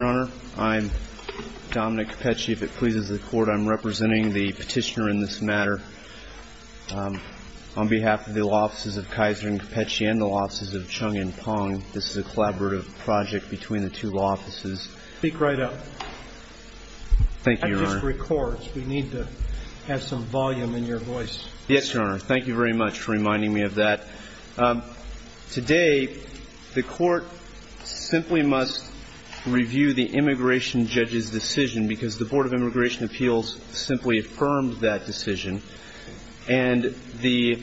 I'm Dominic Cappucci. If it pleases the Court, I'm representing the petitioner in this matter. On behalf of the Law Offices of Kaiser and Cappucci and the Law Offices of Chung and Pong, this is a collaborative project between the two law offices. Speak right up. Thank you, Your Honor. That just records. We need to have some volume in your voice. Yes, Your Honor. Thank you very much for reminding me of that. Today, the Court simply must review the immigration judge's decision, because the Board of Immigration Appeals simply affirmed that decision. And the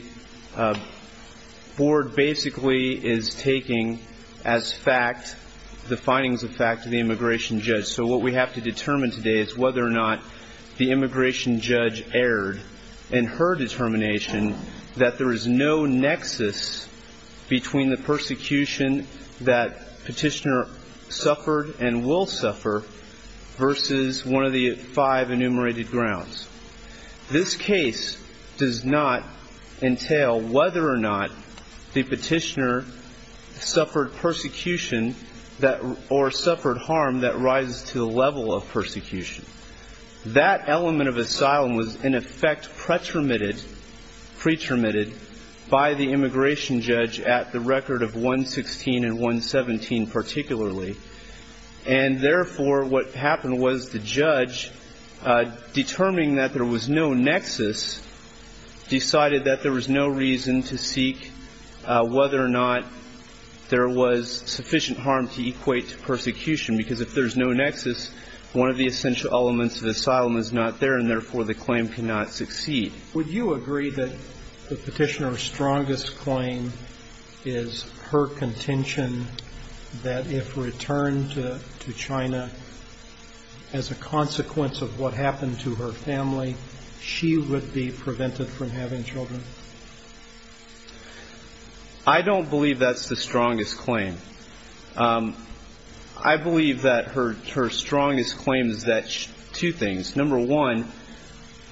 Board basically is taking as fact the findings of fact to the immigration judge. So what we have to determine today is whether or not the immigration judge erred in her determination that there is no nexus between the persecution that petitioner suffered and will suffer versus one of the five enumerated grounds. This case does not entail whether or not the petitioner suffered persecution or suffered harm that rises to the level of persecution. That element of asylum was, in effect, pretermitted by the immigration judge at the record of 116 and 117 particularly. And therefore, what happened was the judge, determining that there was no nexus, decided that there was no reason to seek whether or not there was sufficient harm to equate to persecution, because if there's no nexus, one of the essential elements of asylum is not there, and therefore, the claim cannot succeed. Would you agree that the petitioner's strongest claim is her contention that if returned to China as a consequence of what happened to her family, she would be prevented from having children? I don't believe that's the strongest claim. I believe that her strongest claim is that two things. Number one,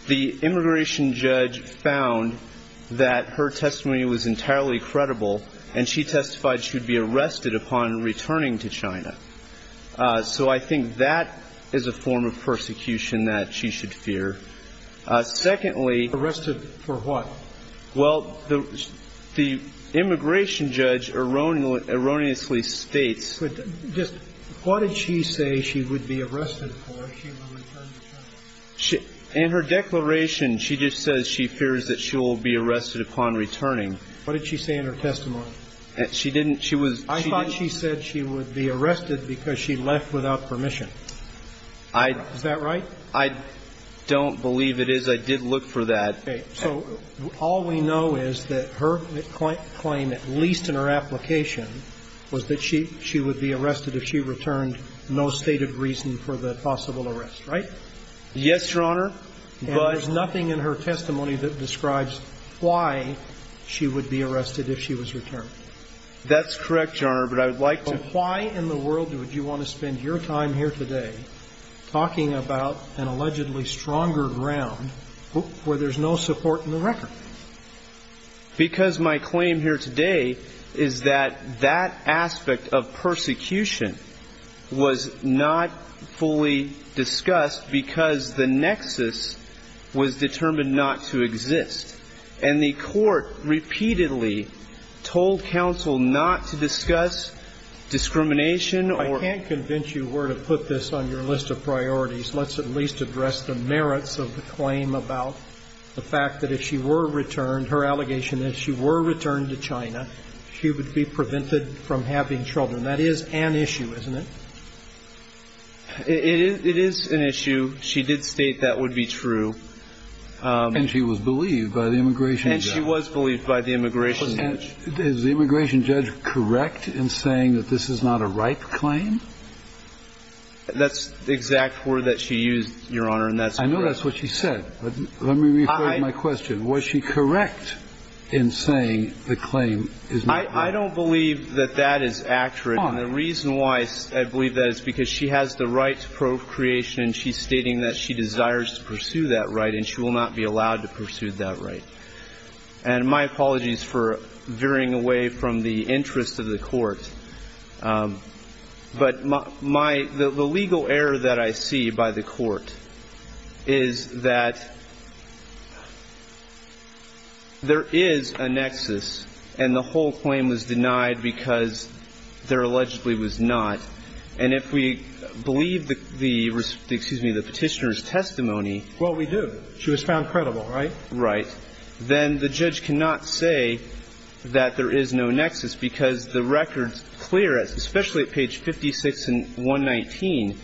the immigration judge found that her testimony was entirely credible, and she testified she would be arrested upon returning to China. So I think that is a form of persecution that she should fear. Secondly — Arrested for what? Well, the immigration judge erroneously states — What did she say she would be arrested for if she were to return to China? In her declaration, she just says she fears that she will be arrested upon returning. What did she say in her testimony? She didn't — she was — I thought she said she would be arrested because she left without permission. Is that right? I don't believe it is. I did look for that. Okay. So all we know is that her claim, at least in her application, was that she would be arrested if she returned, no stated reason for the possible arrest, right? Yes, Your Honor. But — And there's nothing in her testimony that describes why she would be arrested if she was returned? That's correct, Your Honor, but I would like to — But why in the world would you want to spend your time here today talking about an allegedly stronger ground where there's no support in the record? Because my claim here today is that that aspect of persecution was not fully discussed because the nexus was determined not to exist. And the Court repeatedly told counsel not to discuss discrimination or — I can't convince you where to put this on your list of priorities. Let's at least address the merits of the claim about the fact that if she were returned, her allegation that if she were returned to China, she would be prevented from having children. That is an issue, isn't it? It is an issue. She did state that would be true. And she was believed by the immigration judge. And she was believed by the immigration judge. Is the immigration judge correct in saying that this is not a ripe claim? That's the exact word that she used, Your Honor, and that's correct. I know that's what she said. But let me rephrase my question. Was she correct in saying the claim is not ripe? I don't believe that that is accurate, and the reason why I believe that is because she has the right to procreation and she's stating that she desires to pursue that right and she will not be allowed to pursue that right. And my apologies for veering away from the interest of the Court. But my – the legal error that I see by the Court is that there is a nexus, and the whole claim was denied because there allegedly was not. And if we believe the – excuse me – the Petitioner's testimony – Well, we do. She was found credible, right? Right. Then the judge cannot say that there is no nexus because the record's clear, especially at page 56 and 119,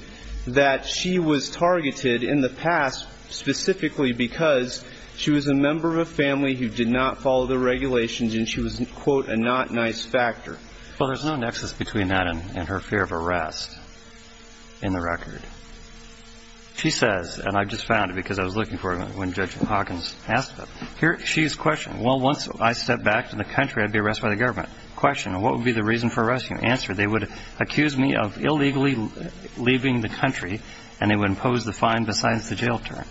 that she was targeted in the past specifically because she was a member of a family who did not follow the regulations and she was, quote, a not nice factor. Well, there's no nexus between that and her fear of arrest in the record. She says – and I just found it because I was looking for it when Judge Hawkins asked it – here, she's questioning, well, once I step back to the country, I'd be arrested by the government. Question, what would be the reason for arresting me? Answer, they would accuse me of illegally leaving the country and they would impose the fine besides the jail term.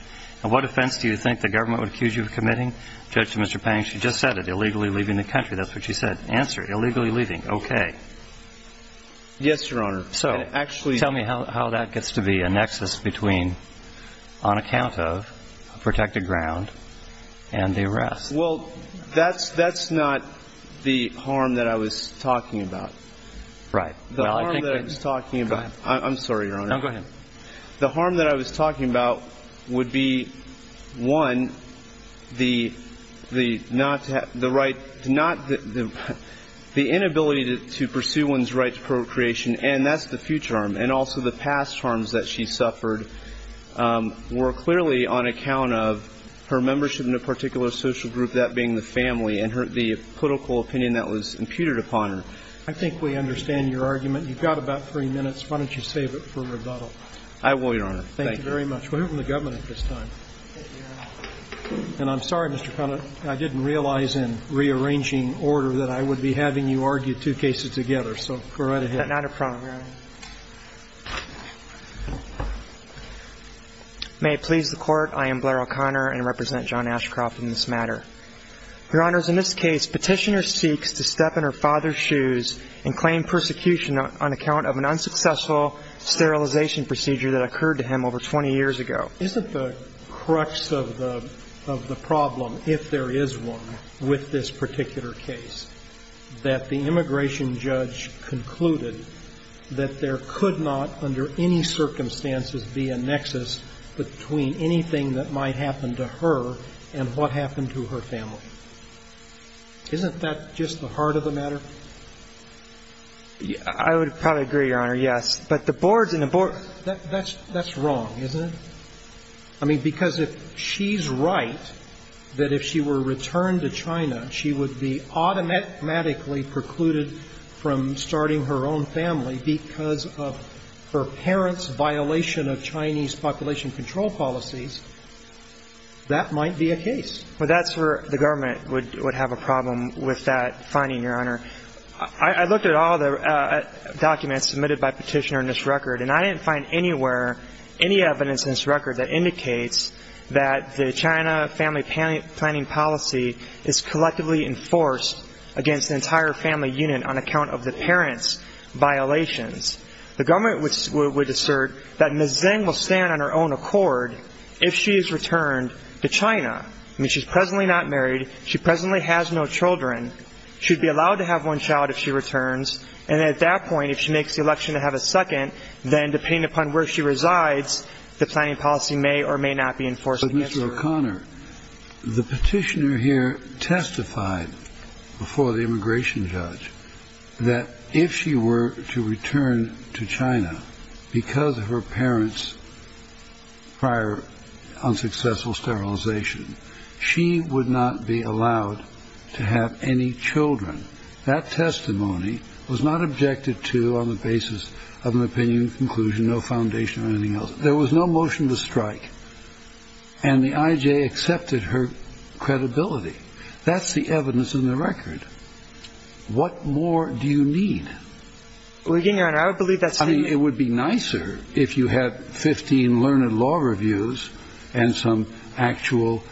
Now, what offense do you think the government would accuse you of committing? Judge, to Mr. Pang, she just said it, illegally leaving the country. That's what she said. Answer, illegally leaving. Okay. Yes, Your Honor. So, tell me how that gets to be. Well, I think that the harm that I was talking about would be, one, the inability to pursue one's right to procreation, and that's the future harm, and also the past harms that she suffered were clearly on account of her membership in a particular social group, that being the family, and the political opinion that was imputed upon her. I think we understand your argument. You've got about three minutes. Why don't you save it for rebuttal? I will, Your Honor. Thank you. Thank you very much. We're hearing from the government at this time. And I'm sorry, Mr. Conant, I didn't realize in rearranging order that I would be having to argue two cases together. So, go right ahead. Not a problem, Your Honor. May it please the Court, I am Blair O'Connor, and represent John Ashcroft in this matter. Your Honors, in this case, Petitioner seeks to step in her father's shoes and claim persecution on account of an unsuccessful sterilization procedure that occurred to him over 20 years ago. Isn't the crux of the problem, if there is one, with this particular case, that the immigration judge concluded that there could not, under any circumstances, be a nexus between anything that might happen to her and what happened to her family? Isn't that just the heart of the matter? I would probably agree, Your Honor, yes. But the boards and the boards... That's wrong, isn't it? I mean, because if she's right, that if she were returned to China, she would be automatically precluded from starting her own family because of her parents' violation of Chinese population control policies, that might be a case. Well, that's where the government would have a problem with that finding, Your Honor. I looked at all the documents submitted by Petitioner in this record, and I didn't find anywhere, any evidence in this record that indicates that the China family planning policy is collectively enforced against the entire family unit on account of the parents' violations. The government would assert that Ms. Zheng will stand on her own accord if she is returned to China. I mean, she's presently not married. She presently has no children. She'd be allowed to have one child if she returns. And at that point, if she makes the election to have a second, then depending upon where she resides, the planning policy may or may not be enforced against her. But Mr. O'Connor, the Petitioner here testified before the immigration judge that if she were to return to China because of her parents' prior unsuccessful sterilization, she would not be allowed to have any children. That testimony was not objected to on the basis of an opinion, conclusion, no foundation, or anything else. There was no motion to strike, and the IJ accepted her credibility. That's the evidence in the record. What more do you need? Well, again, Your Honor, I would believe that's the... I mean, it would be nicer if you had 15 learned law reviews and some actual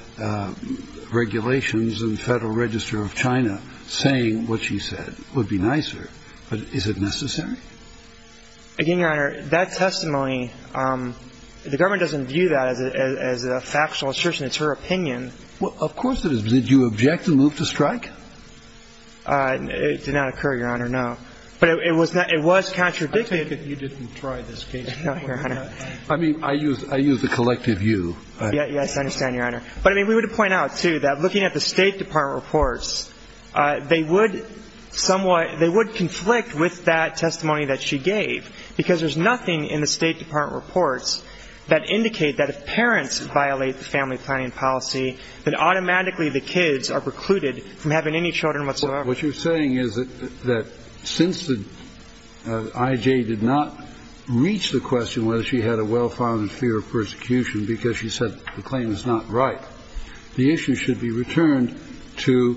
regulations in the Federal Register of China saying what she said would be nicer. But is it necessary? Again, Your Honor, that testimony, the government doesn't view that as a factual assertion. It's her opinion. Well, of course it is. Did you object the move to strike? It did not occur, Your Honor, no. But it was contradicted... I take it you didn't try this case. No, Your Honor. I mean, I use the collective you. Yes, I understand, Your Honor. But, I mean, we would point out, too, that looking at the State Department reports, they would somewhat they would conflict with that testimony that she gave, because there's nothing in the State Department reports that indicate that if parents violate the family planning policy, then automatically the kids are precluded from having any children whatsoever. What you're saying is that since the IJ did not reach the question whether she had a well-founded fear of persecution because she said the claim is not right, the issue should be returned to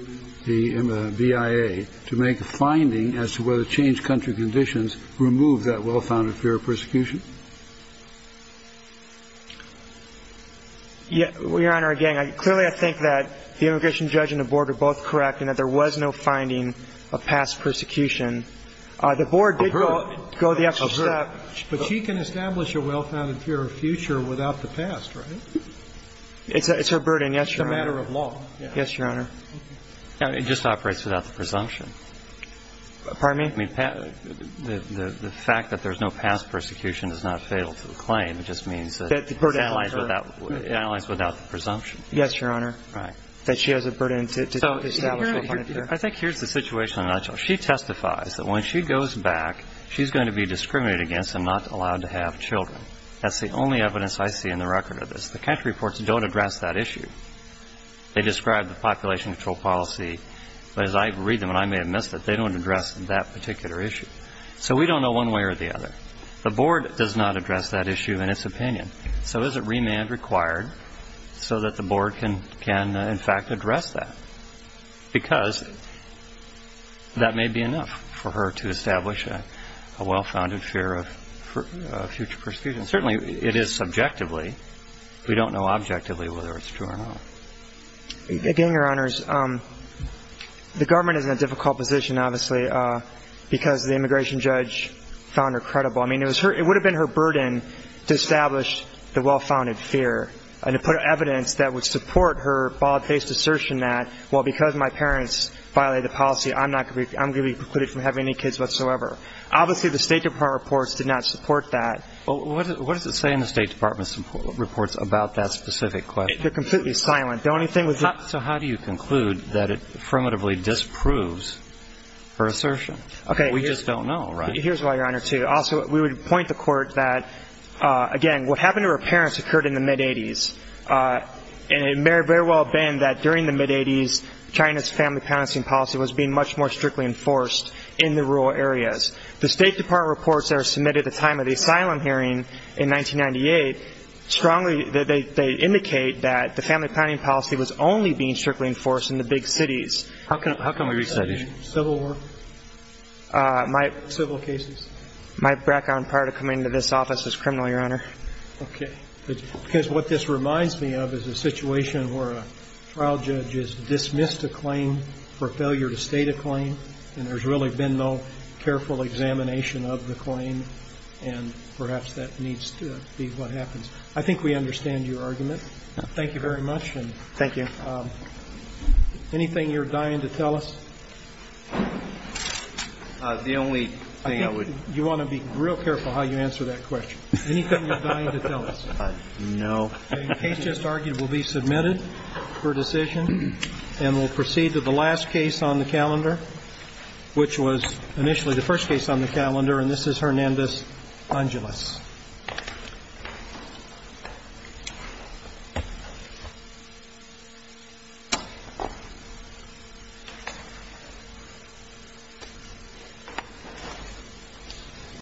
the BIA to make a finding as to whether changed country conditions remove that well-founded fear of persecution? Yes, Your Honor, again, clearly I think that the immigration judge and the Board are both correct in that there was no finding of past persecution. I've heard. The Board did go the extra step. But she can establish a well-founded fear of future without the past, right? It's her burden, yes, Your Honor. It's a matter of law. Yes, Your Honor. It just operates without the presumption. Pardon me? I mean, the fact that there's no past persecution is not fatal to the claim. It just means that it's analyzed without the presumption. Yes, Your Honor. Right. I think here's the situation in a nutshell. She testifies that when she goes back, she's going to be discriminated against and not allowed to have children. That's the only evidence I see in the record of this. The country reports don't address that issue. They describe the population control policy. But as I read them, and I may have missed it, they don't address that particular issue. So we don't know one way or the other. The Board does not address that issue in its opinion. So is it remand required so that the Board can, in fact, address that? Because that may be enough for her to establish a well-founded fear of future persecution. Certainly, it is subjectively. We don't know objectively whether it's true or not. Again, Your Honors, the government is in a difficult position, obviously, because the immigration judge found her credible. I mean, it would have been her burden to establish the well-founded fear and to put evidence that would support her bold-faced assertion that, well, because my parents violated the policy, I'm going to be precluded from having any kids whatsoever. Obviously, the State Department reports did not support that. What does it say in the State Department's reports about that specific question? They're completely silent. So how do you conclude that it affirmatively disproves her assertion? We just don't know, right? Here's why, Your Honor, too. Also, we would point the court that, again, what happened to her parents occurred in the mid-'80s, and it may very well have been that, during the mid-'80s, China's family-planning policy was being much more strictly enforced in the rural areas. The State Department reports that are submitted at the time of the asylum hearing in 1998 strongly indicate that the family-planning policy was only being strictly enforced in the big cities. How can we reach that issue? Civil war? Civil cases? My background prior to coming to this office was criminal, Your Honor. Okay. Because what this reminds me of is a situation where a trial judge has dismissed a claim for failure to state a claim, and there's really been no careful examination of the claim, and perhaps that needs to be what happens. I think we understand your argument. Thank you very much. Thank you. Anything you're dying to tell us? The only thing I would... You want to be real careful how you answer that question. Anything you're dying to tell us? No. The case just argued will be submitted for decision, and we'll proceed to the last case on the calendar, which was initially the first case on the calendar, and this is Hernandez-Angeles.